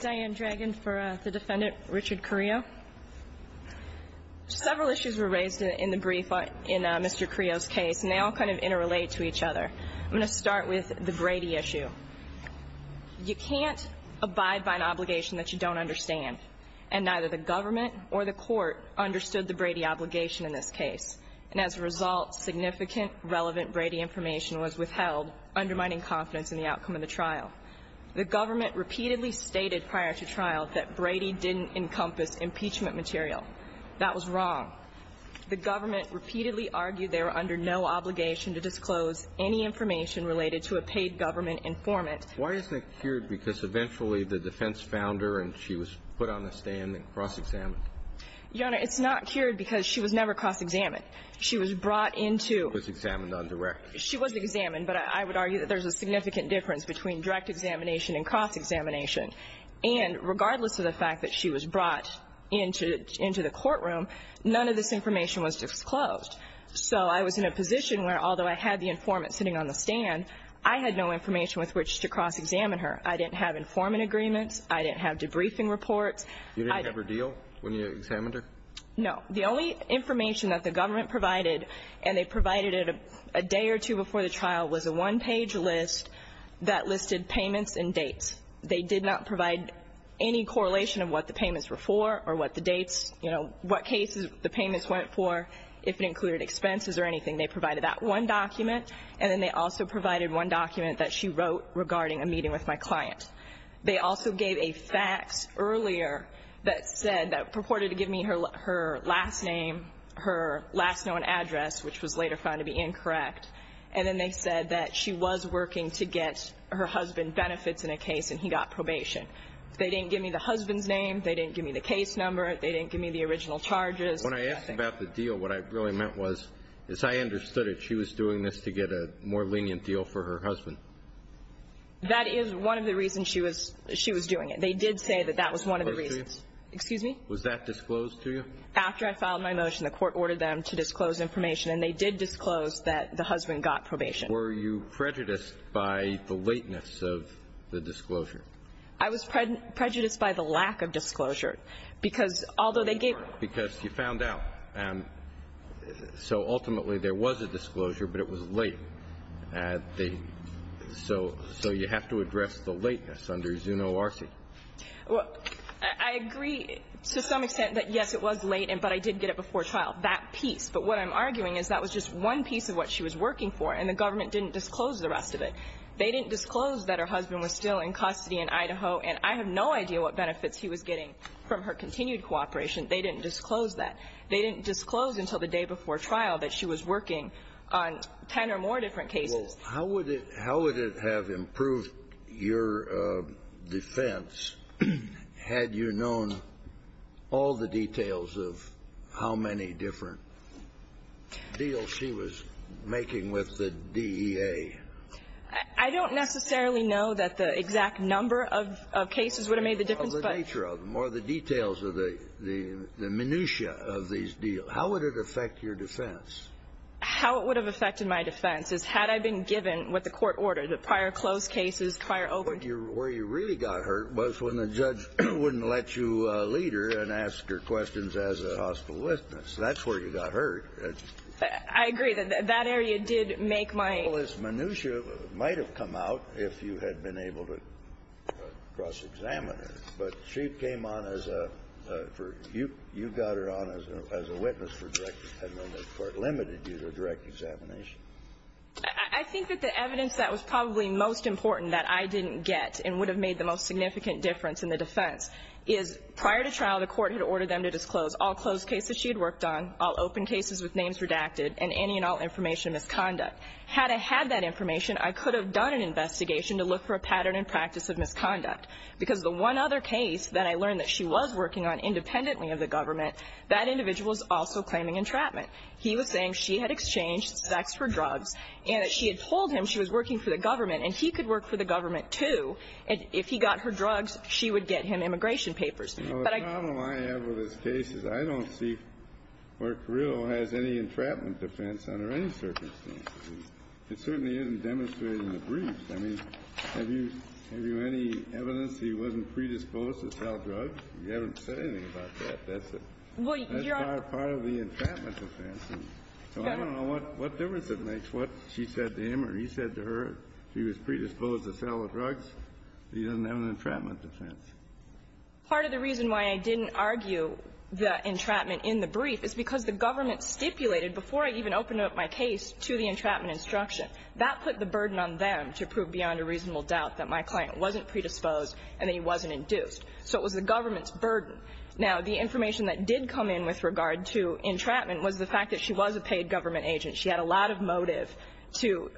Diane Dragon for the defendant, Richard Carrillo. Several issues were raised in the brief in Mr. Carrillo's case, and they all kind of interrelate to each other. I'm going to start with the Brady issue. You can't abide by an obligation that you don't understand, and neither the government or the court understood the Brady obligation in this case. And as a result, significant relevant Brady information was withheld, undermining confidence in the outcome of the trial. The government repeatedly stated prior to trial that Brady didn't encompass impeachment material. That was wrong. The government repeatedly argued they were under no obligation to disclose any information related to a paid government informant. Why isn't it cured? Because eventually the defense found her, and she was put on the stand and cross-examined. Your Honor, it's not cured because she was never cross-examined. She was brought into – She was examined on direct. She was examined, but I would argue that there's a significant difference between direct examination and cross-examination. And regardless of the fact that she was brought into the courtroom, none of this information was disclosed. So I was in a position where although I had the informant sitting on the stand, I had no information with which to cross-examine her. I didn't have informant agreements. I didn't have debriefing reports. You didn't have her deal when you examined her? No. The only information that the government provided, and they provided it a day or two before the trial, was a one-page list that listed payments and dates. They did not provide any correlation of what the payments were for or what the dates, you know, what cases the payments went for, if it included expenses or anything. They provided that one document, and then they also provided one document that she wrote regarding a meeting with my client. They also gave a fax earlier that said, that purported to give me her last name, her last known address, which was later found to be incorrect. And then they said that she was working to get her husband benefits in a case, and he got probation. They didn't give me the husband's name. They didn't give me the case number. They didn't give me the original charges. When I asked about the deal, what I really meant was is I understood it. She was doing this to get a more lenient deal for her husband. That is one of the reasons she was doing it. They did say that that was one of the reasons. Was that disclosed to you? Excuse me? Was that disclosed to you? After I filed my motion, the Court ordered them to disclose information, and they did disclose that the husband got probation. Were you prejudiced by the lateness of the disclosure? I was prejudiced by the lack of disclosure, because although they gave me the case number. So you have to address the lateness under Zuno RC. Well, I agree to some extent that, yes, it was late, but I did get it before trial, that piece. But what I'm arguing is that was just one piece of what she was working for, and the government didn't disclose the rest of it. They didn't disclose that her husband was still in custody in Idaho, and I have no idea what benefits he was getting from her continued cooperation. They didn't disclose that. Well, how would it have improved your defense had you known all the details of how many different deals she was making with the DEA? I don't necessarily know that the exact number of cases would have made the difference. I don't know the nature of them or the details of the minutiae of these deals. How would it affect your defense? How it would have affected my defense is had I been given what the Court ordered, the prior closed cases, prior open cases. Where you really got hurt was when the judge wouldn't let you lead her and ask her questions as a hospital witness. That's where you got hurt. I agree that that area did make my ---- Well, this minutiae might have come out if you had been able to cross-examine her. But she came on as a ---- you got her on as a witness for direct ---- and then the Court limited you to direct examination. I think that the evidence that was probably most important that I didn't get and would have made the most significant difference in the defense is prior to trial, the Court had ordered them to disclose all closed cases she had worked on, all open cases with names redacted, and any and all information of misconduct. Had I had that information, I could have done an investigation to look for a pattern and practice of misconduct. Because the one other case that I learned that she was working on independently of the government, that individual is also claiming entrapment. He was saying she had exchanged sex for drugs and that she had told him she was working for the government and he could work for the government, too. And if he got her drugs, she would get him immigration papers. The problem I have with this case is I don't see where Carrillo has any entrapment defense under any circumstances. It certainly isn't demonstrated in the briefs. I mean, have you any evidence he wasn't predisposed to sell drugs? You haven't said anything about that. That's a part of the entrapment defense. So I don't know what difference it makes what she said to him or he said to her. If he was predisposed to sell drugs, he doesn't have an entrapment defense. Part of the reason why I didn't argue the entrapment in the brief is because the government stipulated before I even opened up my case to the entrapment instruction, that put the burden on them to prove beyond a reasonable doubt that my client wasn't predisposed and that he wasn't induced. So it was the government's burden. Now, the information that did come in with regard to entrapment was the fact that she was a paid government agent. She had a lot of motive to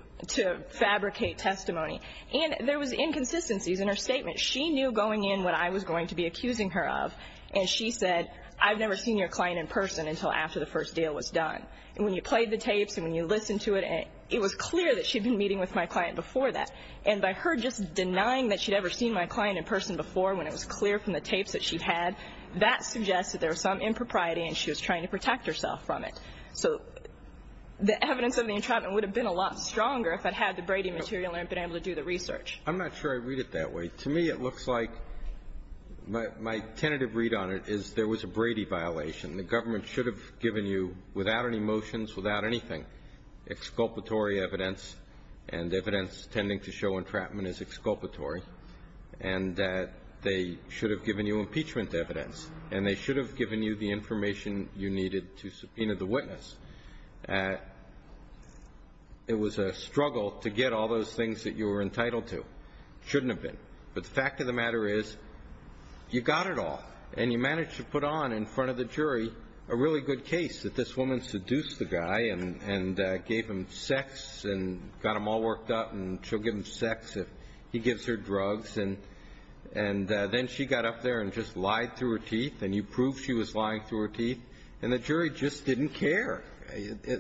fabricate testimony. And there was inconsistencies in her statement. She knew going in what I was going to be accusing her of. And she said, I've never seen your client in person until after the first deal was done. And when you played the tapes and when you listened to it, it was clear that she'd been meeting with my client before that. And by her just denying that she'd ever seen my client in person before when it was clear from the tapes that she'd had, that suggests that there was some impropriety and she was trying to protect herself from it. So the evidence of the entrapment would have been a lot stronger if I'd had the Brady material and been able to do the research. I'm not sure I read it that way. To me, it looks like my tentative read on it is there was a Brady violation. The government should have given you, without any motions, without anything, exculpatory evidence and evidence tending to show entrapment is exculpatory, and that they should have given you impeachment evidence. And they should have given you the information you needed to subpoena the witness. It was a struggle to get all those things that you were entitled to. It shouldn't have been. But the fact of the matter is you got it all, and you managed to put on in front of the jury a really good case, that this woman seduced the guy and gave him sex and got him all worked up and she'll give him sex if he gives her drugs. And then she got up there and just lied through her teeth, and you proved she was lying through her teeth. And the jury just didn't care.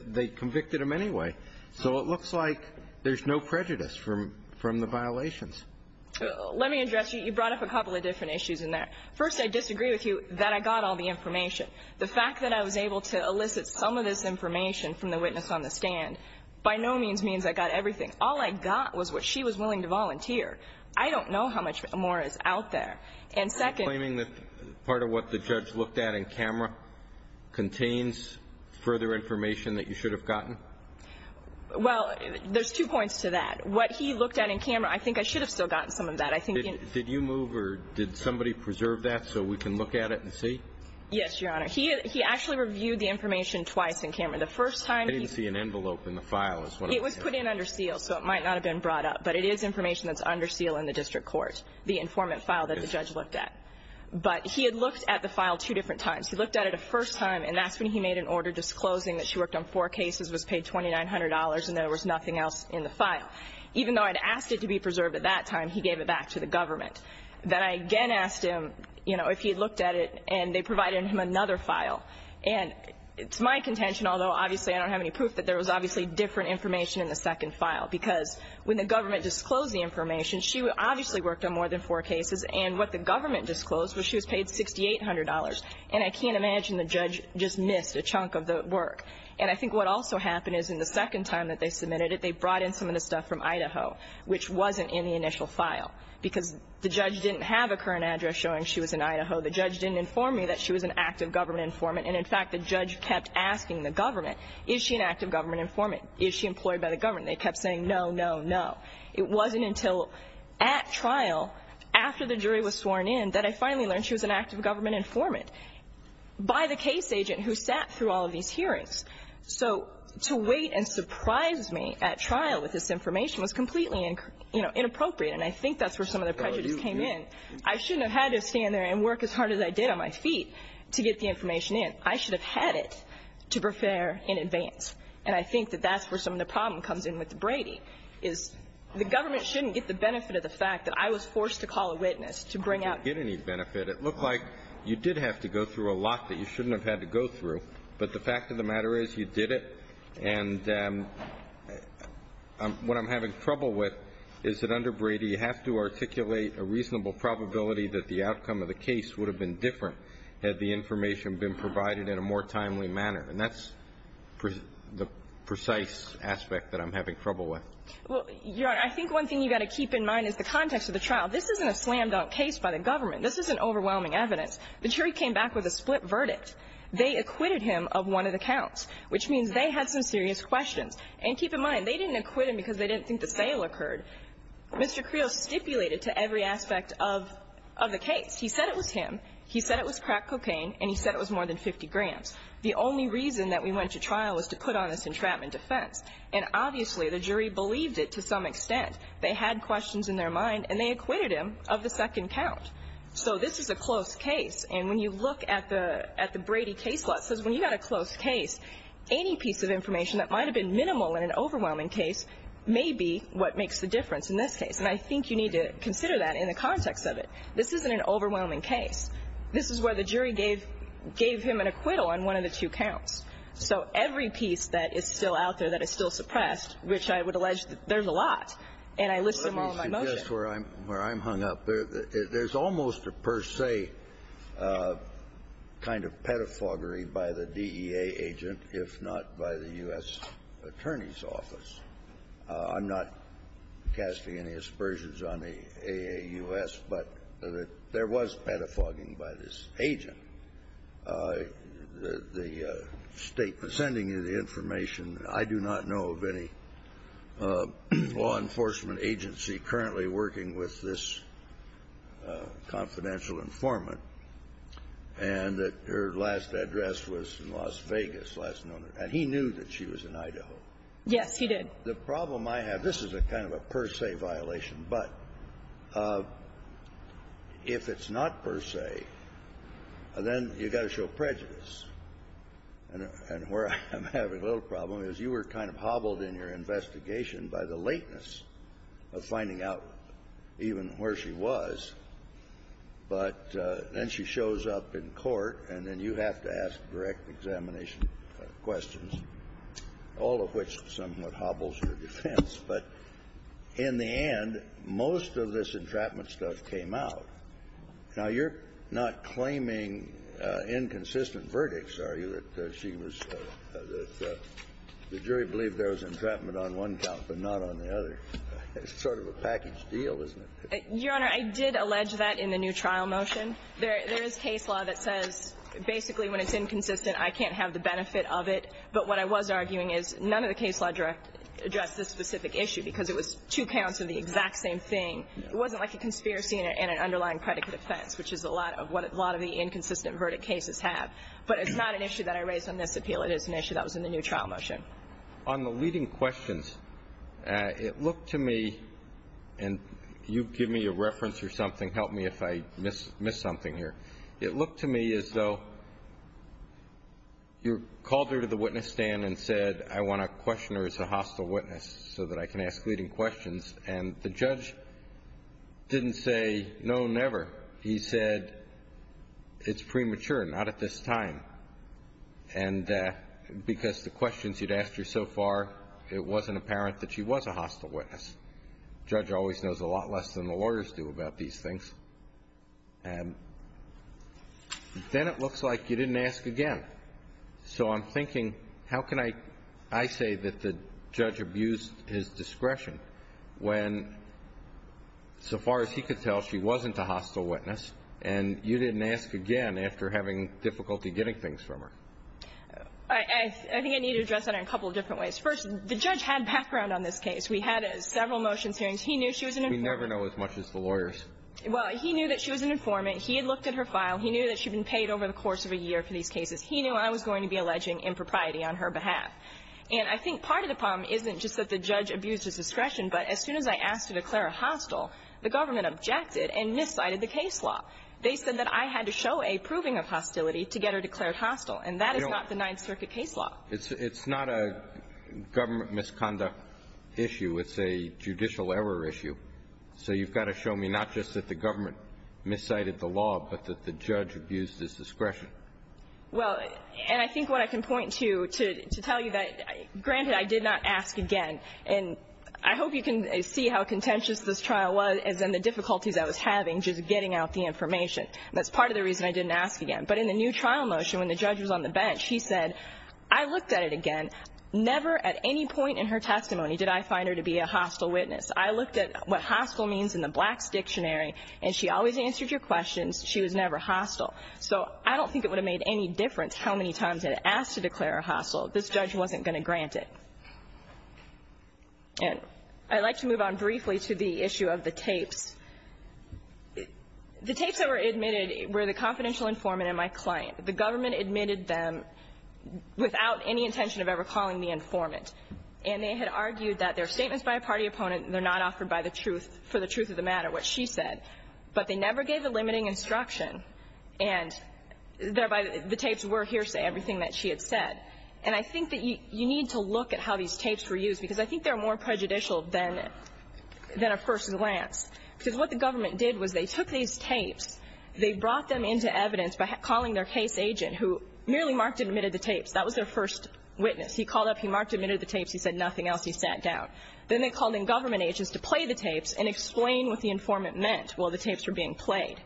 They convicted him anyway. So it looks like there's no prejudice from the violations. Let me address you. You brought up a couple of different issues in there. First, I disagree with you that I got all the information. The fact that I was able to elicit some of this information from the witness on the stand by no means means I got everything. All I got was what she was willing to volunteer. I don't know how much more is out there. And second ---- Are you claiming that part of what the judge looked at in camera contains further information that you should have gotten? Well, there's two points to that. What he looked at in camera, I think I should have still gotten some of that. Did you move or did somebody preserve that so we can look at it and see? Yes, Your Honor. He actually reviewed the information twice in camera. I didn't see an envelope in the file. It was put in under seal, so it might not have been brought up. But it is information that's under seal in the district court, the informant file that the judge looked at. But he had looked at the file two different times. He looked at it a first time, and that's when he made an order disclosing that she worked on four cases, was paid $2,900, and there was nothing else in the file. Even though I'd asked it to be preserved at that time, he gave it back to the government. Then I again asked him, you know, if he had looked at it, and they provided him another file. And it's my contention, although obviously I don't have any proof, that there was obviously different information in the second file, because when the government disclosed the information, she obviously worked on more than four cases. And what the government disclosed was she was paid $6,800. And I can't imagine the judge just missed a chunk of the work. And I think what also happened is in the second time that they submitted it, they brought in some of the stuff from Idaho, which wasn't in the initial file, because the judge didn't have a current address showing she was in Idaho. The judge didn't inform me that she was an active government informant. And, in fact, the judge kept asking the government, is she an active government informant? Is she employed by the government? They kept saying no, no, no. It wasn't until at trial, after the jury was sworn in, that I finally learned she was an active government informant, by the case agent who sat through all of these hearings. So to wait and surprise me at trial with this information was completely, you know, inappropriate. And I think that's where some of the prejudice came in. I shouldn't have had to stand there and work as hard as I did on my feet to get the information in. I should have had it to prepare in advance. And I think that that's where some of the problem comes in with Brady, is the government shouldn't get the benefit of the fact that I was forced to call a witness to bring out the evidence. It looked like you did have to go through a lot that you shouldn't have had to go through. But the fact of the matter is, you did it. And what I'm having trouble with is that under Brady, you have to articulate a reasonable probability that the outcome of the case would have been different had the information been provided in a more timely manner. And that's the precise aspect that I'm having trouble with. Well, Your Honor, I think one thing you've got to keep in mind is the context of the trial. This isn't a slam-dunk case by the government. This isn't overwhelming evidence. The jury came back with a split verdict. They acquitted him of one of the counts, which means they had some serious questions. And keep in mind, they didn't acquit him because they didn't think the sale occurred. Mr. Creel stipulated to every aspect of the case. He said it was him. He said it was crack cocaine, and he said it was more than 50 grams. The only reason that we went to trial was to put on this entrapment defense. And obviously, the jury believed it to some extent. They had questions in their mind, and they acquitted him of the second count. So this is a close case. And when you look at the Brady case law, it says when you've got a close case, any piece of information that might have been minimal in an overwhelming case may be what makes the difference in this case. And I think you need to consider that in the context of it. This isn't an overwhelming case. This is where the jury gave him an acquittal on one of the two counts. There's a lot. And I list them all in my motion. Kennedy. Well, let me suggest where I'm hung up. There's almost a per se kind of pedophagy by the DEA agent, if not by the U.S. Attorney's Office. I'm not casting any aspersions on the AAUS, but there was pedophagy by this agent. The State was sending you the information. I do not know of any law enforcement agency currently working with this confidential informant. And her last address was in Las Vegas. And he knew that she was in Idaho. Yes, he did. The problem I have, this is a kind of a per se violation. But if it's not per se, then you've got to show prejudice. And where I'm having a little problem is you were kind of hobbled in your investigation by the lateness of finding out even where she was. But then she shows up in court, and then you have to ask direct examination questions, all of which somewhat hobbles your defense. But in the end, most of this entrapment stuff came out. Now, you're not claiming inconsistent verdicts, are you, that she was the jury believed there was entrapment on one count but not on the other? It's sort of a package deal, isn't it? Your Honor, I did allege that in the new trial motion. There is case law that says basically when it's inconsistent, I can't have the benefit of it. But what I was arguing is none of the case law addressed this specific issue because it was two counts of the exact same thing. It wasn't like a conspiracy and an underlying predicate offense, which is a lot of what a lot of the inconsistent verdict cases have. But it's not an issue that I raised on this appeal. It is an issue that was in the new trial motion. On the leading questions, it looked to me, and you give me a reference or something. Help me if I miss something here. It looked to me as though you called her to the witness stand and said, I want to question her as a hostile witness so that I can ask leading questions. And the judge didn't say, no, never. He said, it's premature, not at this time. And because the questions he'd asked her so far, it wasn't apparent that she was a hostile witness. The judge always knows a lot less than the lawyers do about these things. And then it looks like you didn't ask again. So I'm thinking, how can I say that the judge abused his discretion when, so far as he could tell, she wasn't a hostile witness, and you didn't ask again after having difficulty getting things from her? I think I need to address that in a couple of different ways. First, the judge had background on this case. We had several motions hearings. He knew she was an informant. We never know as much as the lawyers. Well, he knew that she was an informant. He had looked at her file. He knew that she had been paid over the course of a year for these cases. He knew I was going to be alleging impropriety on her behalf. And I think part of the problem isn't just that the judge abused his discretion, but as soon as I asked to declare her hostile, the government objected and miscited the case law. They said that I had to show a proving of hostility to get her declared hostile, and that is not the Ninth Circuit case law. It's not a government misconduct issue. It's a judicial error issue. So you've got to show me not just that the government miscited the law, but that the judge abused his discretion. Well, and I think what I can point to, to tell you that, granted, I did not ask again. And I hope you can see how contentious this trial was and the difficulties I was having just getting out the information. That's part of the reason I didn't ask again. But in the new trial motion, when the judge was on the bench, he said, I looked at it again. Never at any point in her testimony did I find her to be a hostile witness. I looked at what hostile means in the Blacks Dictionary, and she always answered your questions. She was never hostile. So I don't think it would have made any difference how many times I had asked to declare her hostile. This judge wasn't going to grant it. And I'd like to move on briefly to the issue of the tapes. The tapes that were admitted were the confidential informant and my client. The government admitted them without any intention of ever calling me informant. And they had argued that they're statements by a party opponent and they're not offered by the truth, for the truth of the matter, what she said. But they never gave a limiting instruction. And thereby, the tapes were hearsay, everything that she had said. And I think that you need to look at how these tapes were used, because I think they're more prejudicial than a person's lance. Because what the government did was they took these tapes, they brought them into evidence by calling their case agent, who merely marked and admitted the tapes. That was their first witness. He called up, he marked and admitted the tapes. He said nothing else. He sat down. Then they called in government agents to play the tapes and explain what the informant meant while the tapes were being played.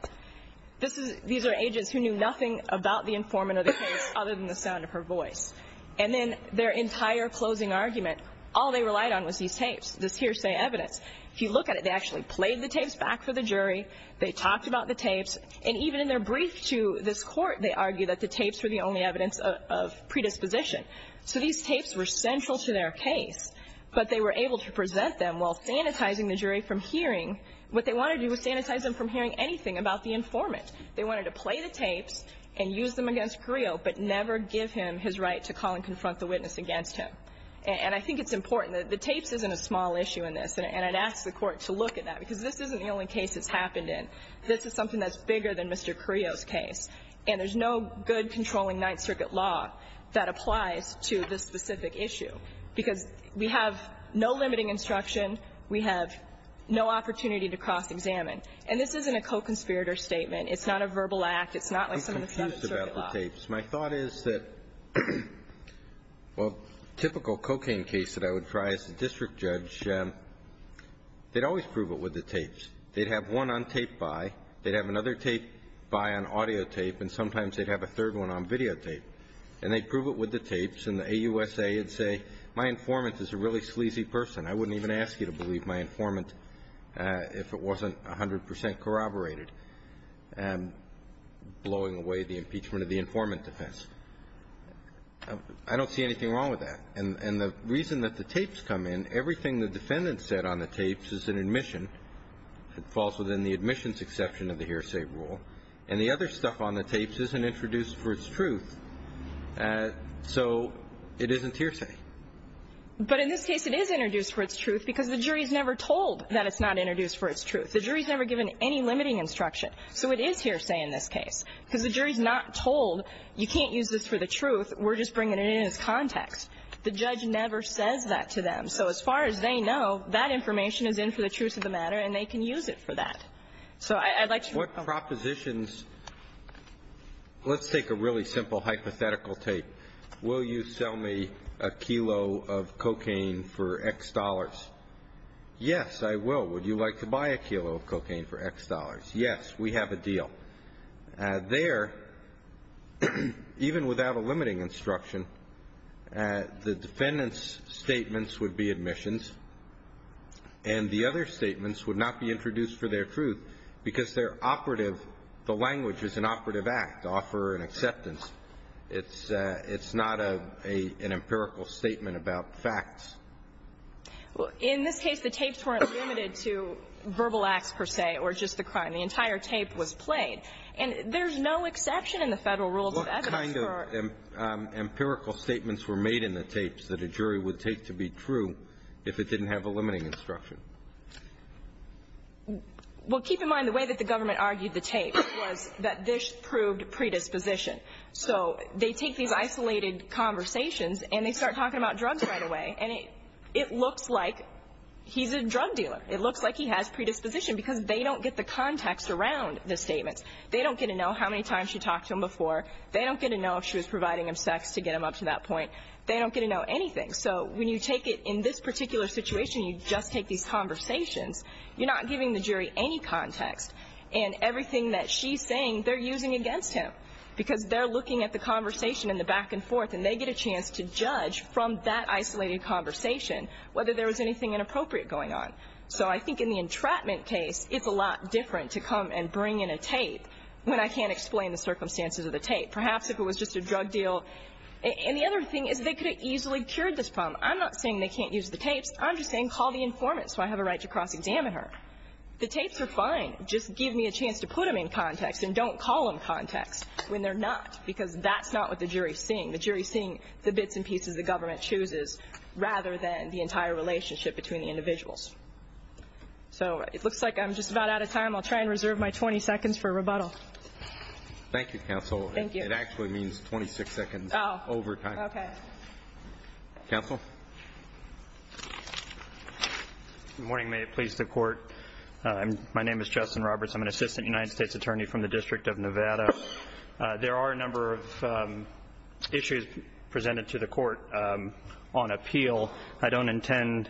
These are agents who knew nothing about the informant or the tapes other than the sound of her voice. And then their entire closing argument, all they relied on was these tapes, this hearsay evidence. If you look at it, they actually played the tapes back for the jury. They talked about the tapes. And even in their brief to this court, they argued that the tapes were the only evidence of predisposition. So these tapes were central to their case, but they were able to present them while sanitizing the jury from hearing. What they wanted to do was sanitize them from hearing anything about the informant. They wanted to play the tapes and use them against Creo, but never give him his right to call and confront the witness against him. And I think it's important. The tapes isn't a small issue in this, and I'd ask the Court to look at that, because this isn't the only case it's happened in. This is something that's bigger than Mr. Creo's case. And there's no good controlling Ninth Circuit law that applies to this specific issue, because we have no limiting instruction. We have no opportunity to cross-examine. And this isn't a co-conspirator statement. It's not a verbal act. It's not like some of the Seventh Circuit law. I'm confused about the tapes. My thought is that, well, typical cocaine case that I would try as a district judge, they'd always prove it with the tapes. They'd have one on tape by. They'd have another tape by on audio tape. And sometimes they'd have a third one on videotape. And they'd prove it with the tapes. And the AUSA would say, my informant is a really sleazy person. I wouldn't even ask you to believe my informant if it wasn't 100 percent corroborated, blowing away the impeachment of the informant defense. I don't see anything wrong with that. And the reason that the tapes come in, everything the defendant said on the tapes is an admission. It falls within the admissions exception of the hearsay rule. And the other stuff on the tapes isn't introduced for its truth. So it isn't hearsay. But in this case, it is introduced for its truth because the jury's never told that it's not introduced for its truth. The jury's never given any limiting instruction. So it is hearsay in this case because the jury's not told you can't use this for the truth. We're just bringing it in as context. The judge never says that to them. So as far as they know, that information is in for the truth of the matter, and they can use it for that. So I'd like to know. What propositions – let's take a really simple hypothetical tape. Will you sell me a kilo of cocaine for X dollars? Yes, I will. Would you like to buy a kilo of cocaine for X dollars? Yes. We have a deal. There, even without a limiting instruction, the defendant's statements would be admissions, and the other statements would not be introduced for their truth because they're operative. The language is an operative act, offer and acceptance. It's not an empirical statement about facts. Well, in this case, the tapes weren't limited to verbal acts, per se, or just the crime. The entire tape was played. And there's no exception in the Federal Rules of Evidence for – What kind of empirical statements were made in the tapes that a jury would take to be true if it didn't have a limiting instruction? Well, keep in mind the way that the government argued the tape was that this proved predisposition. So they take these isolated conversations, and they start talking about drugs right away, and it looks like he's a drug dealer. It looks like he has predisposition because they don't get the context around the statements. They don't get to know how many times she talked to him before. They don't get to know if she was providing him sex to get him up to that point. They don't get to know anything. So when you take it in this particular situation, you just take these conversations, you're not giving the jury any context. And everything that she's saying, they're using against him because they're looking at the conversation and the back and forth, and they get a chance to judge from that isolated conversation whether there was anything inappropriate going on. So I think in the entrapment case, it's a lot different to come and bring in a tape when I can't explain the circumstances of the tape. Perhaps if it was just a drug deal. And the other thing is they could have easily cured this problem. I'm not saying they can't use the tapes. I'm just saying call the informant so I have a right to cross-examine her. The tapes are fine. Just give me a chance to put them in context and don't call them context when they're not, because that's not what the jury's seeing. The jury's seeing the bits and pieces the government chooses rather than the entire relationship between the individuals. So it looks like I'm just about out of time. I'll try and reserve my 20 seconds for rebuttal. Thank you, counsel. Thank you. It actually means 26 seconds over time. Oh, okay. Counsel? Good morning. May it please the Court. My name is Justin Roberts. I'm an assistant United States attorney from the District of Nevada. There are a number of issues presented to the Court on appeal. I don't intend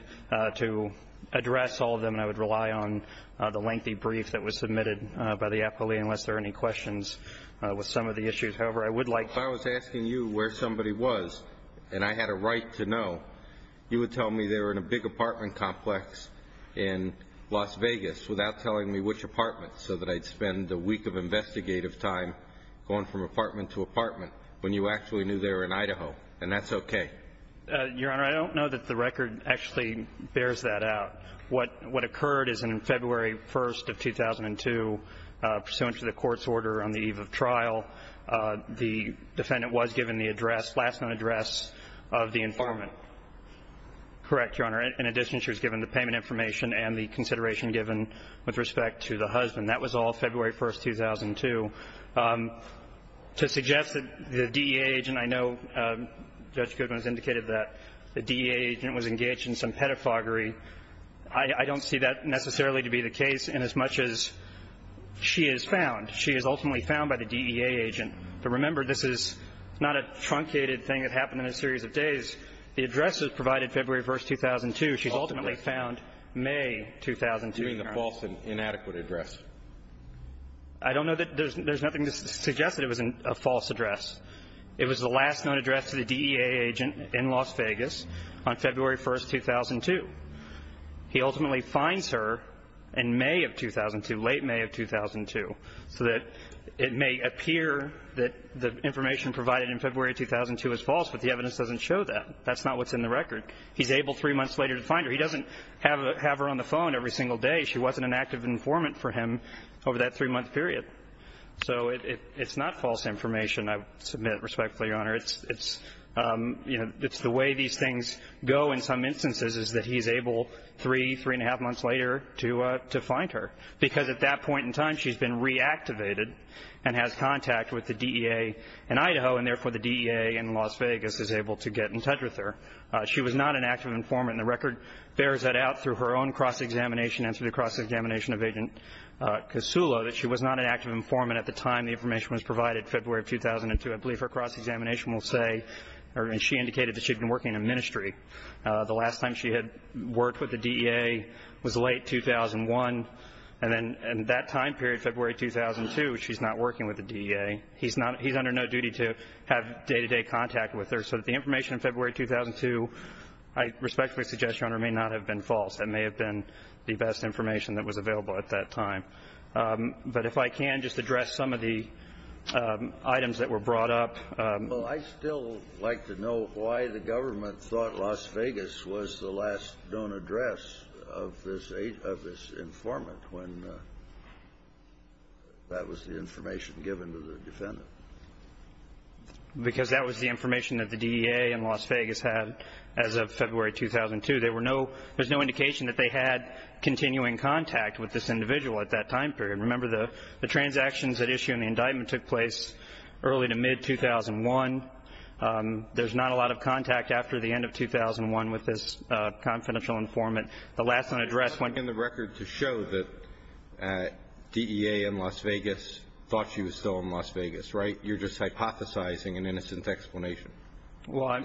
to address all of them. I would rely on the lengthy brief that was submitted by the appellee unless there are any questions with some of the issues. However, I would like to ---- If I was asking you where somebody was and I had a right to know, you would tell me they were in a big apartment complex in Las Vegas without telling me which apartment so that I'd spend a week of investigative time going from apartment to apartment when you actually knew they were in Idaho, and that's okay. Your Honor, I don't know that the record actually bears that out. What occurred is on February 1st of 2002, pursuant to the Court's order on the eve of trial, the defendant was given the address, last known address of the informant. Correct, Your Honor. In addition, she was given the payment information and the consideration given with respect to the husband. That was all February 1st, 2002. To suggest that the DEA agent ---- I know Judge Goodman has indicated that the DEA agent was engaged in some pedophagy. I don't see that necessarily to be the case inasmuch as she is found. She is ultimately found by the DEA agent. But remember, this is not a truncated thing that happened in a series of days. The address was provided February 1st, 2002. She's ultimately found May 2002, Your Honor. You mean the false and inadequate address? I don't know that there's nothing to suggest that it was a false address. It was the last known address to the DEA agent in Las Vegas on February 1st, 2002. He ultimately finds her in May of 2002, late May of 2002, so that it may appear that the information provided in February 2002 is false, but the evidence doesn't show that. That's not what's in the record. He's able three months later to find her. He doesn't have her on the phone every single day. She wasn't an active informant for him over that three-month period. So it's not false information, I submit respectfully, Your Honor. It's the way these things go in some instances is that he's able three, three-and-a-half months later to find her, because at that point in time she's been reactivated and has contact with the DEA in Idaho, and therefore the DEA in Las Vegas is able to get in touch with her. She was not an active informant, and the record bears that out through her own cross-examination and through the cross-examination of Agent Kosulo that she was not an active informant at the time the information was provided, February of 2002. I believe her cross-examination will say, or she indicated that she had been working in a ministry. The last time she had worked with the DEA was late 2001. And then in that time period, February 2002, she's not working with the DEA. He's under no duty to have day-to-day contact with her. So the information in February 2002, I respectfully suggest, Your Honor, may not have been false. That may have been the best information that was available at that time. But if I can just address some of the items that were brought up. Well, I'd still like to know why the government thought Las Vegas was the last known address of this informant when that was the information given to the defendant. Because that was the information that the DEA in Las Vegas had as of February 2002. There was no indication that they had continuing contact with this individual at that time period. Remember, the transactions that issue in the indictment took place early to mid-2001. There's not a lot of contact after the end of 2001 with this confidential informant. The last known address went to the record to show that DEA in Las Vegas thought she was still in Las Vegas, right? You're just hypothesizing an innocent explanation. Well, I'm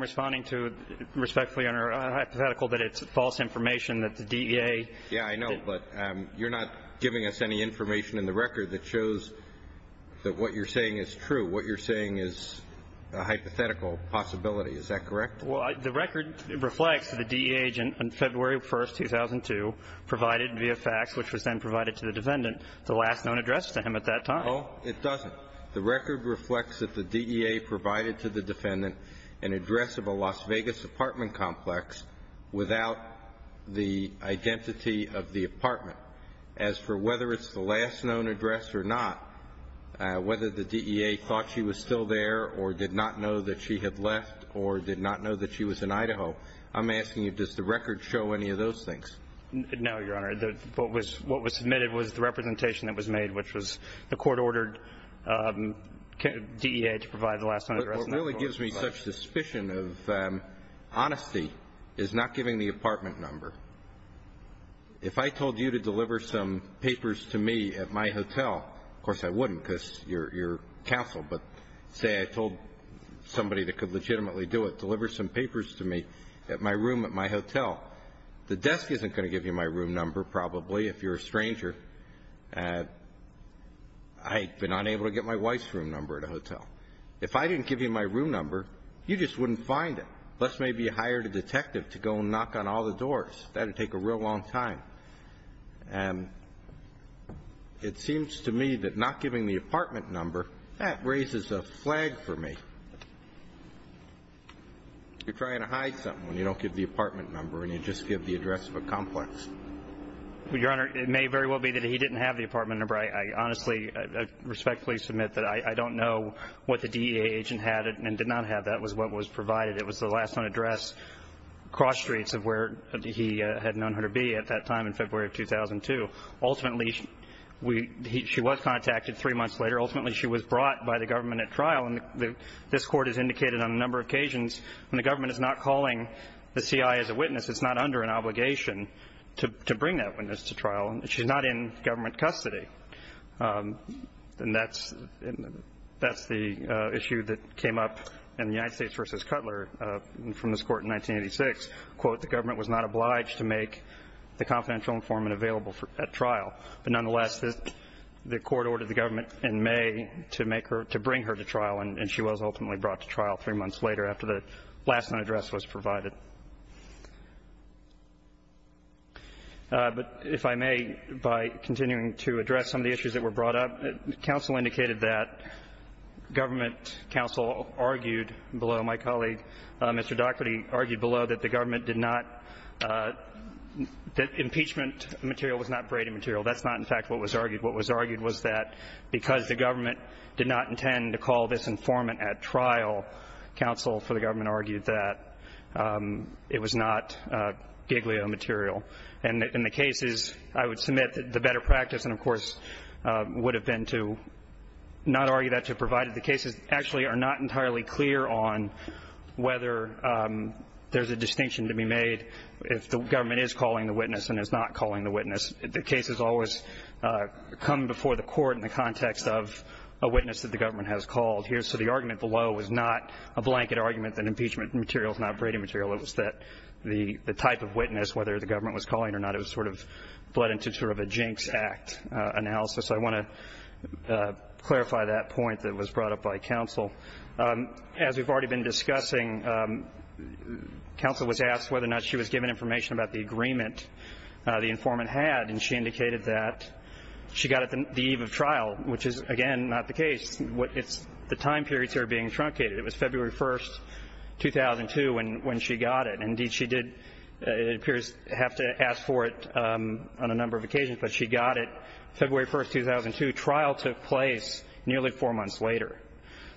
responding to respectfully, Your Honor, a hypothetical that it's false information that the DEA. Yeah, I know. But you're not giving us any information in the record that shows that what you're saying is true. What you're saying is a hypothetical possibility. Is that correct? Well, the record reflects that the DEA agent on February 1, 2002, provided via fax, which was then provided to the defendant, the last known address to him at that time. Oh, it doesn't. The record reflects that the DEA provided to the defendant an address of a Las Vegas apartment complex without the identity of the apartment. As for whether it's the last known address or not, whether the DEA thought she was still there or did not know that she had left or did not know that she was in Idaho, I'm asking you, does the record show any of those things? No, Your Honor. What was submitted was the representation that was made, which was the court ordered DEA to provide the last known address. What really gives me such suspicion of honesty is not giving the apartment number. If I told you to deliver some papers to me at my hotel, of course I wouldn't because you're counseled, but say I told somebody that could legitimately do it, deliver some papers to me at my room at my hotel, the desk isn't going to give you my room number probably if you're a stranger. I've been unable to get my wife's room number at a hotel. If I didn't give you my room number, you just wouldn't find it, lest maybe you hired a detective to go knock on all the doors. That would take a real long time. And it seems to me that not giving the apartment number, that raises a flag for me. You're trying to hide something when you don't give the apartment number and you just give the address of a complex. Your Honor, it may very well be that he didn't have the apartment number. I honestly respectfully submit that I don't know what the DEA agent had and did not have that was what was provided. It was the last known address across streets of where he had known her to be at that time in February of 2002. Ultimately, she was contacted three months later. Ultimately, she was brought by the government at trial, and this Court has indicated on a number of occasions when the government is not calling the CI as a witness, it's not under an obligation to bring that witness to trial. She's not in government custody. And that's the issue that came up in the United States v. Cutler from this Court in 1986. Quote, the government was not obliged to make the confidential informant available at trial. But nonetheless, the Court ordered the government in May to bring her to trial, and she was ultimately brought to trial three months later after the last known address was provided. But if I may, by continuing to address some of the issues that were brought up, counsel indicated that government counsel argued below my colleague Mr. Daugherty argued below that the government did not – that impeachment material was not braiding material. That's not, in fact, what was argued. What was argued was that because the government did not intend to call this informant at trial, counsel for the government argued that it was not Giglio material. And in the cases, I would submit that the better practice, and of course would have been to not argue that, to provide that the cases actually are not entirely clear on whether there's a distinction to be made if the government is calling the witness and is not calling the witness. The cases always come before the Court in the context of a witness that the government has called. So the argument below was not a blanket argument that impeachment material is not braiding material. It was that the type of witness, whether the government was calling it or not, it was sort of bled into sort of a jinx act analysis. I want to clarify that point that was brought up by counsel. As we've already been discussing, counsel was asked whether or not she was given information about the agreement the informant had, and she indicated that she got it the eve of trial, which is, again, not the case. It's the time periods that are being truncated. It was February 1st, 2002, when she got it. Indeed, she did, it appears, have to ask for it on a number of occasions, but she got it February 1st, 2002. Trial took place nearly four months later.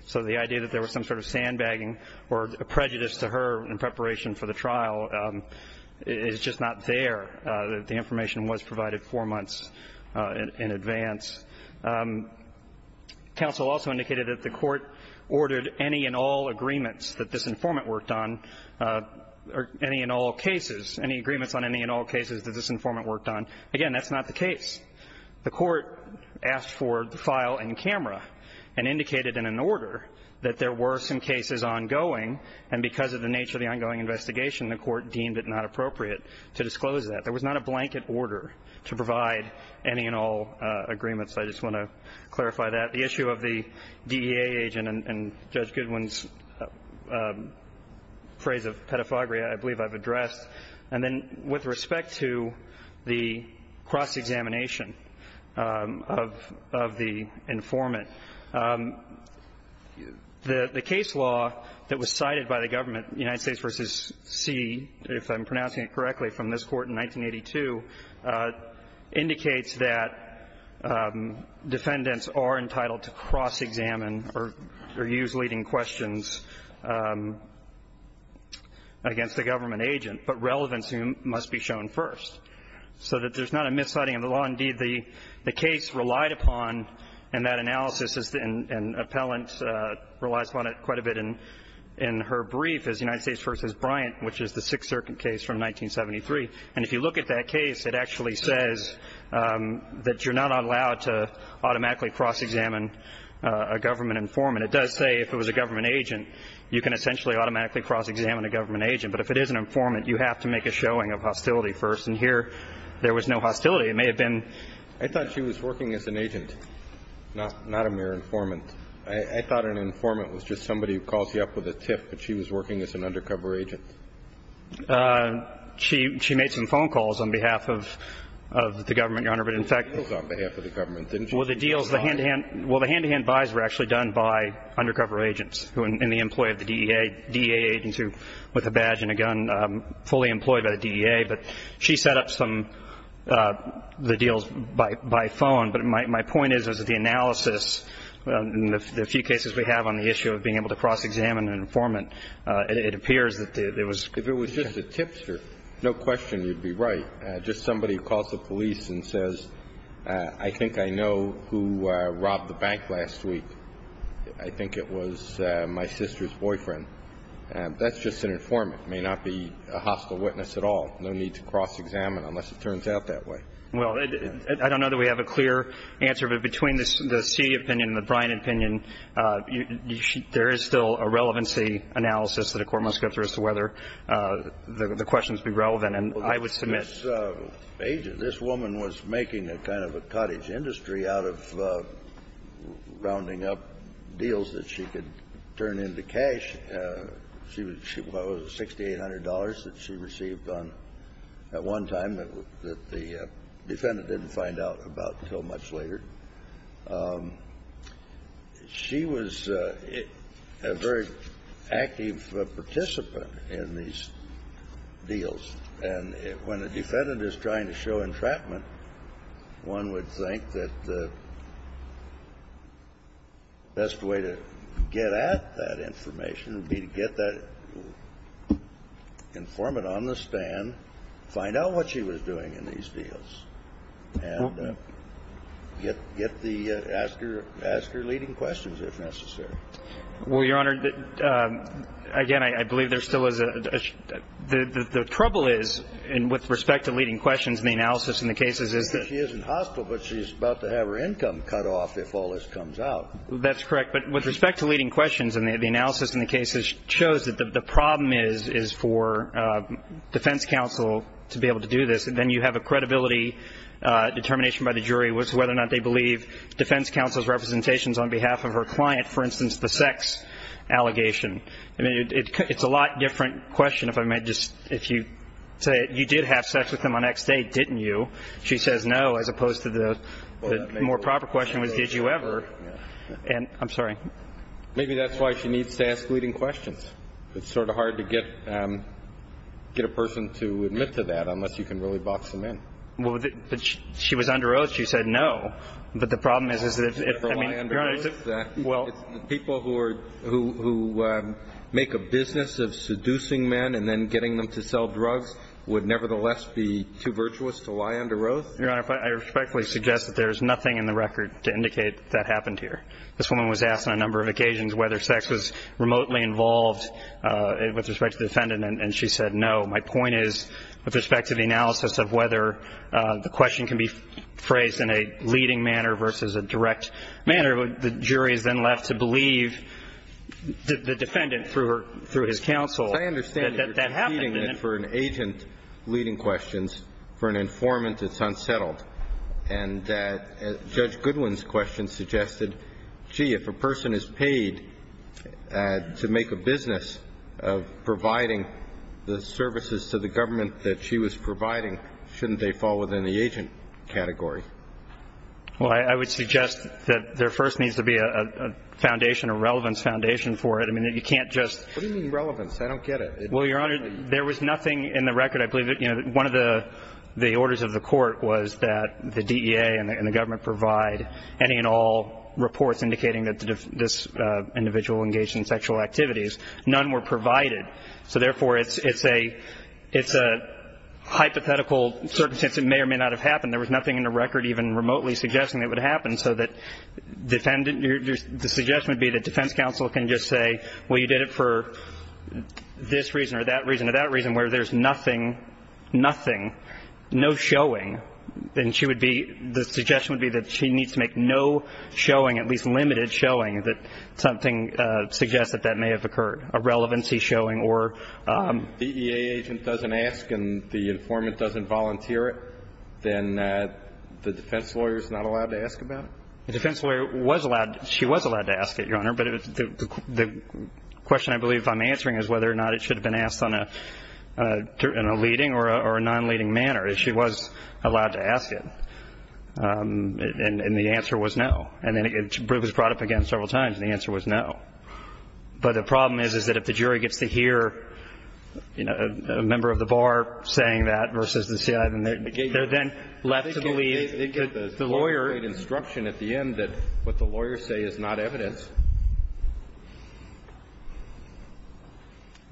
So the idea that there was some sort of sandbagging or prejudice to her in preparation for the trial is just not there. The information was provided four months in advance. Counsel also indicated that the Court ordered any and all agreements that this informant worked on or any and all cases, any agreements on any and all cases that this informant worked on. Again, that's not the case. The Court asked for the file in camera and indicated in an order that there were some cases ongoing, and because of the nature of the ongoing investigation, the Court deemed it not appropriate to disclose that. There was not a blanket order to provide any and all agreements. I just want to clarify that. The issue of the DEA agent and Judge Goodwin's phrase of pedophagia, I believe I've addressed. And then with respect to the cross-examination of the informant, the case law that was passed in 1982 indicates that defendants are entitled to cross-examine or use leading questions against the government agent, but relevance must be shown first. So that there's not a misciting of the law. Indeed, the case relied upon, and that analysis and appellant relies upon it quite a bit in her brief, is United States v. Bryant, which is the Sixth Circuit case from 1973. And if you look at that case, it actually says that you're not allowed to automatically cross-examine a government informant. It does say if it was a government agent, you can essentially automatically cross-examine a government agent. But if it is an informant, you have to make a showing of hostility first. And here, there was no hostility. It may have been. I thought she was working as an agent, not a mere informant. I thought an informant was just somebody who calls you up with a tip, but she was working as an undercover agent. She made some phone calls on behalf of the government, Your Honor. But in fact the deals on behalf of the government, didn't she? Well, the deals, the hand-to-hand buys were actually done by undercover agents and the employee of the DEA, DEA agents who, with a badge and a gun, fully employed by the DEA. But she set up some of the deals by phone. But my point is that the analysis in the few cases we have on the issue of being able to cross-examine an informant, it appears that it was. If it was just a tipster, no question you'd be right. Just somebody who calls the police and says, I think I know who robbed the bank last week. I think it was my sister's boyfriend. That's just an informant. It may not be a hostile witness at all. No need to cross-examine unless it turns out that way. Well, I don't know that we have a clear answer. But between the C opinion and the Bryant opinion, there is still a relevancy analysis that a court must go through as to whether the questions be relevant. And I would submit that this woman was making a kind of a cottage industry out of rounding up deals that she could turn into cash. She was, what was it, $6,800 that she received at one time that the defendant didn't find out about until much later. She was a very active participant in these deals. And when a defendant is trying to show entrapment, one would think that the best way to get at that information would be to get that informant on the stand, find out what she was doing in these deals, and get the ask her leading questions if necessary. Well, Your Honor, again, I believe there still is a – the trouble is, with respect to leading questions and the analysis in the cases is that – She isn't hostile, but she's about to have her income cut off if all this comes out. That's correct. But with respect to leading questions and the analysis in the cases shows that the defense counsel, to be able to do this, then you have a credibility determination by the jury as to whether or not they believe defense counsel's representations on behalf of her client, for instance, the sex allegation. I mean, it's a lot different question if I might just – if you say, you did have sex with him on X day, didn't you? She says no, as opposed to the more proper question was, did you ever? And – I'm sorry. Maybe that's why she needs to ask leading questions. It's sort of hard to get a person to admit to that unless you can really box them in. Well, she was under oath. She said no. But the problem is, is that if – Did she ever lie under oath? Your Honor, is it – well – People who are – who make a business of seducing men and then getting them to sell drugs would nevertheless be too virtuous to lie under oath? Your Honor, I respectfully suggest that there is nothing in the record to indicate that happened here. This woman was asked on a number of occasions whether sex was remotely involved with respect to the defendant, and she said no. My point is, with respect to the analysis of whether the question can be phrased in a leading manner versus a direct manner, the jury is then left to believe the defendant through her – through his counsel that that happened. I understand that you're treating it for an agent leading questions, for an informant that's unsettled, and that Judge Goodwin's question suggested, gee, if a person is paid to make a business of providing the services to the government that she was providing, shouldn't they fall within the agent category? Well, I would suggest that there first needs to be a foundation, a relevance foundation for it. I mean, you can't just – What do you mean relevance? I don't get it. Well, Your Honor, there was nothing in the record. I believe that one of the orders of the court was that the DEA and the government provide any and all reports indicating that this individual engaged in sexual activities. None were provided. So therefore, it's a – it's a hypothetical circumstance. It may or may not have happened. There was nothing in the record even remotely suggesting it would happen, so that defendant – the suggestion would be that defense counsel can just say, well, you did it for this reason or that reason or that reason, where there's nothing, nothing, no showing. And she would be – the suggestion would be that she needs to make no showing, at least limited showing, that something suggests that that may have occurred, a relevancy showing or – If the DEA agent doesn't ask and the informant doesn't volunteer it, then the defense lawyer is not allowed to ask about it? The defense lawyer was allowed – she was allowed to ask it, Your Honor. But the question I believe I'm answering is whether or not it should have been asked on a – in a leading or a non-leading manner. She was allowed to ask it. And the answer was no. And then it was brought up again several times, and the answer was no. But the problem is, is that if the jury gets to hear, you know, a member of the bar saying that versus the CI, then they're then left to believe that the lawyer –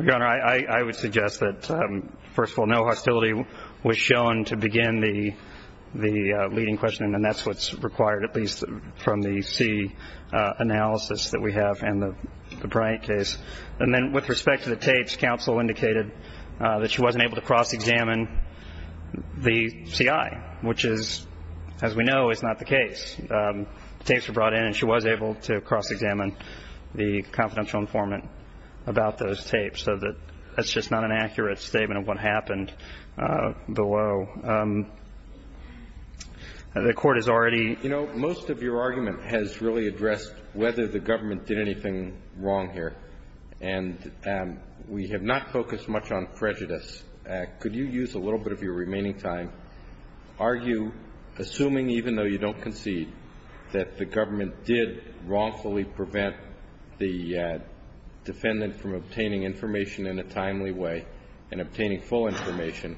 Your Honor, I would suggest that, first of all, no hostility was shown to begin the leading question, and that's what's required at least from the C analysis that we have and the Bryant case. And then with respect to the tapes, counsel indicated that she wasn't able to cross-examine the CI, which is, as we know, is not the case. The tapes were brought in and she was able to cross-examine the confidential informant about those tapes so that that's just not an accurate statement of what happened below. The Court has already – You know, most of your argument has really addressed whether the government did anything wrong here, and we have not focused much on prejudice. Could you use a little bit of your remaining time, argue, assuming even though you don't concede, that the government did wrongfully prevent the defendant from obtaining information in a timely way and obtaining full information,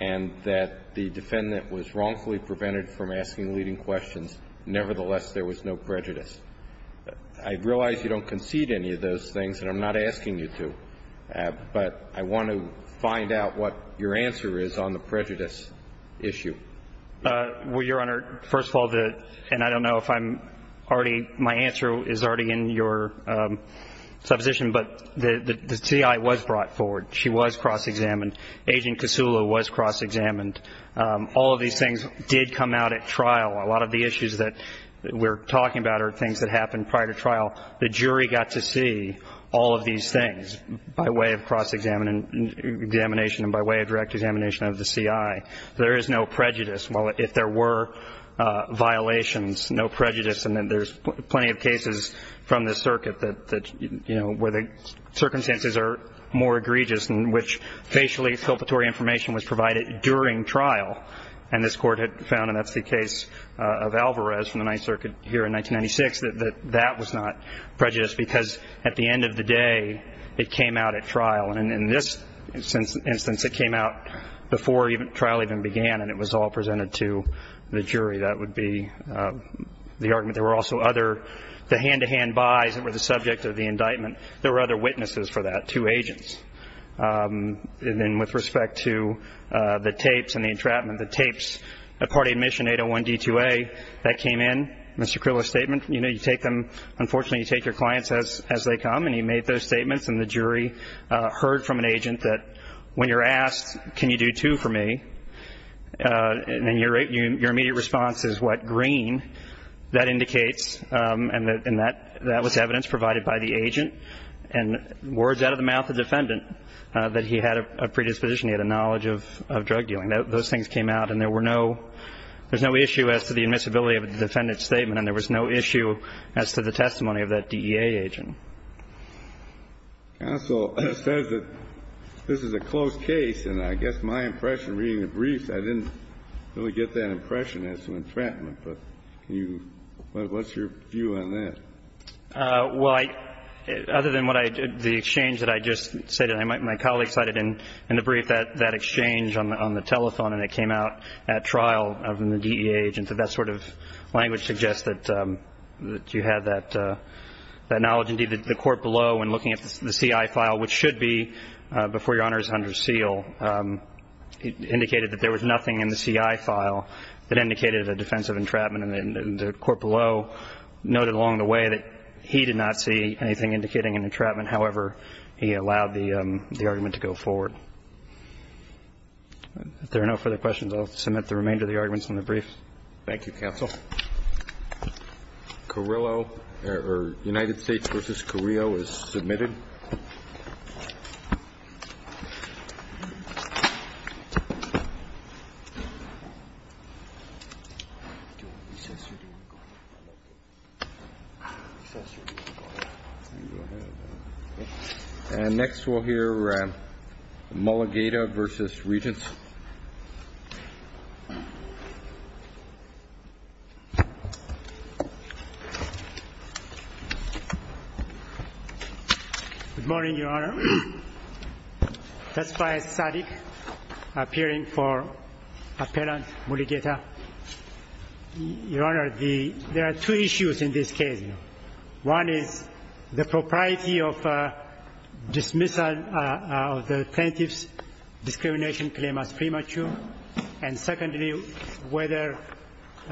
and that the defendant was wrongfully prevented from asking leading questions, nevertheless, there was no prejudice? I realize you don't concede any of those things, and I'm not asking you to, but I want to find out what your answer is on the prejudice issue. Well, Your Honor, first of all, and I don't know if I'm already – my answer is already in your supposition, but the CI was brought forward. She was cross-examined. Agent Kasula was cross-examined. All of these things did come out at trial. A lot of the issues that we're talking about are things that happened prior to trial. The jury got to see all of these things by way of cross-examination and by way of direct examination of the CI. There is no prejudice. Well, if there were violations, no prejudice, and there's plenty of cases from the circuit that, you know, where the circumstances are more egregious in which facially exculpatory information was provided during trial, and this Court had found, and that's the case of Alvarez from the Ninth Circuit here in 1996, that that was not prejudice because at the end of the day it came out at trial, and in this instance it came out before trial even began and it was all presented to the jury. That would be the argument. There were also other – the hand-to-hand buys that were the subject of the indictment, there were other witnesses for that, two agents. And then with respect to the tapes and the entrapment, the tapes, a party admission, 801 D2A, that came in, Mr. Kriller's statement, you know, you take them, unfortunately you take your clients as they come, and he made those statements, and the jury heard from an agent that when you're asked, can you do two for me, and your immediate response is what, green, that indicates, and that was evidence provided by the agent and words out of the mouth of the defendant that he had a predisposition, he had a knowledge of drug dealing. Those things came out and there were no – there's no issue as to the admissibility of the defendant's statement and there was no issue as to the testimony of that DEA agent. Counsel says that this is a close case, and I guess my impression reading the briefs, I didn't really get that impression as to entrapment, but can you – what's your view on that? Well, I – other than what I – the exchange that I just said, my colleague cited in the brief that exchange on the telethon and it came out at trial of the DEA agent that that sort of language suggests that you had that knowledge. Indeed, the court below when looking at the CI file, which should be before Your Honor is under seal, indicated that there was nothing in the CI file that indicated a defense of entrapment, and the court below noted along the way that he did not see anything indicating an entrapment. However, he allowed the argument to go forward. If there are no further questions, I'll submit the remainder of the arguments in the brief. Thank you, counsel. Carrillo or United States v. Carrillo is submitted. And next we'll hear Mulligata v. Regents. Good morning, Your Honor. Testify as static, appearing for appellant Mulligata. Your Honor, the – there are two issues in this case. One is the propriety of dismissal of the plaintiff's discrimination claim as premature. And secondly, whether the plaintiff's claim is premature.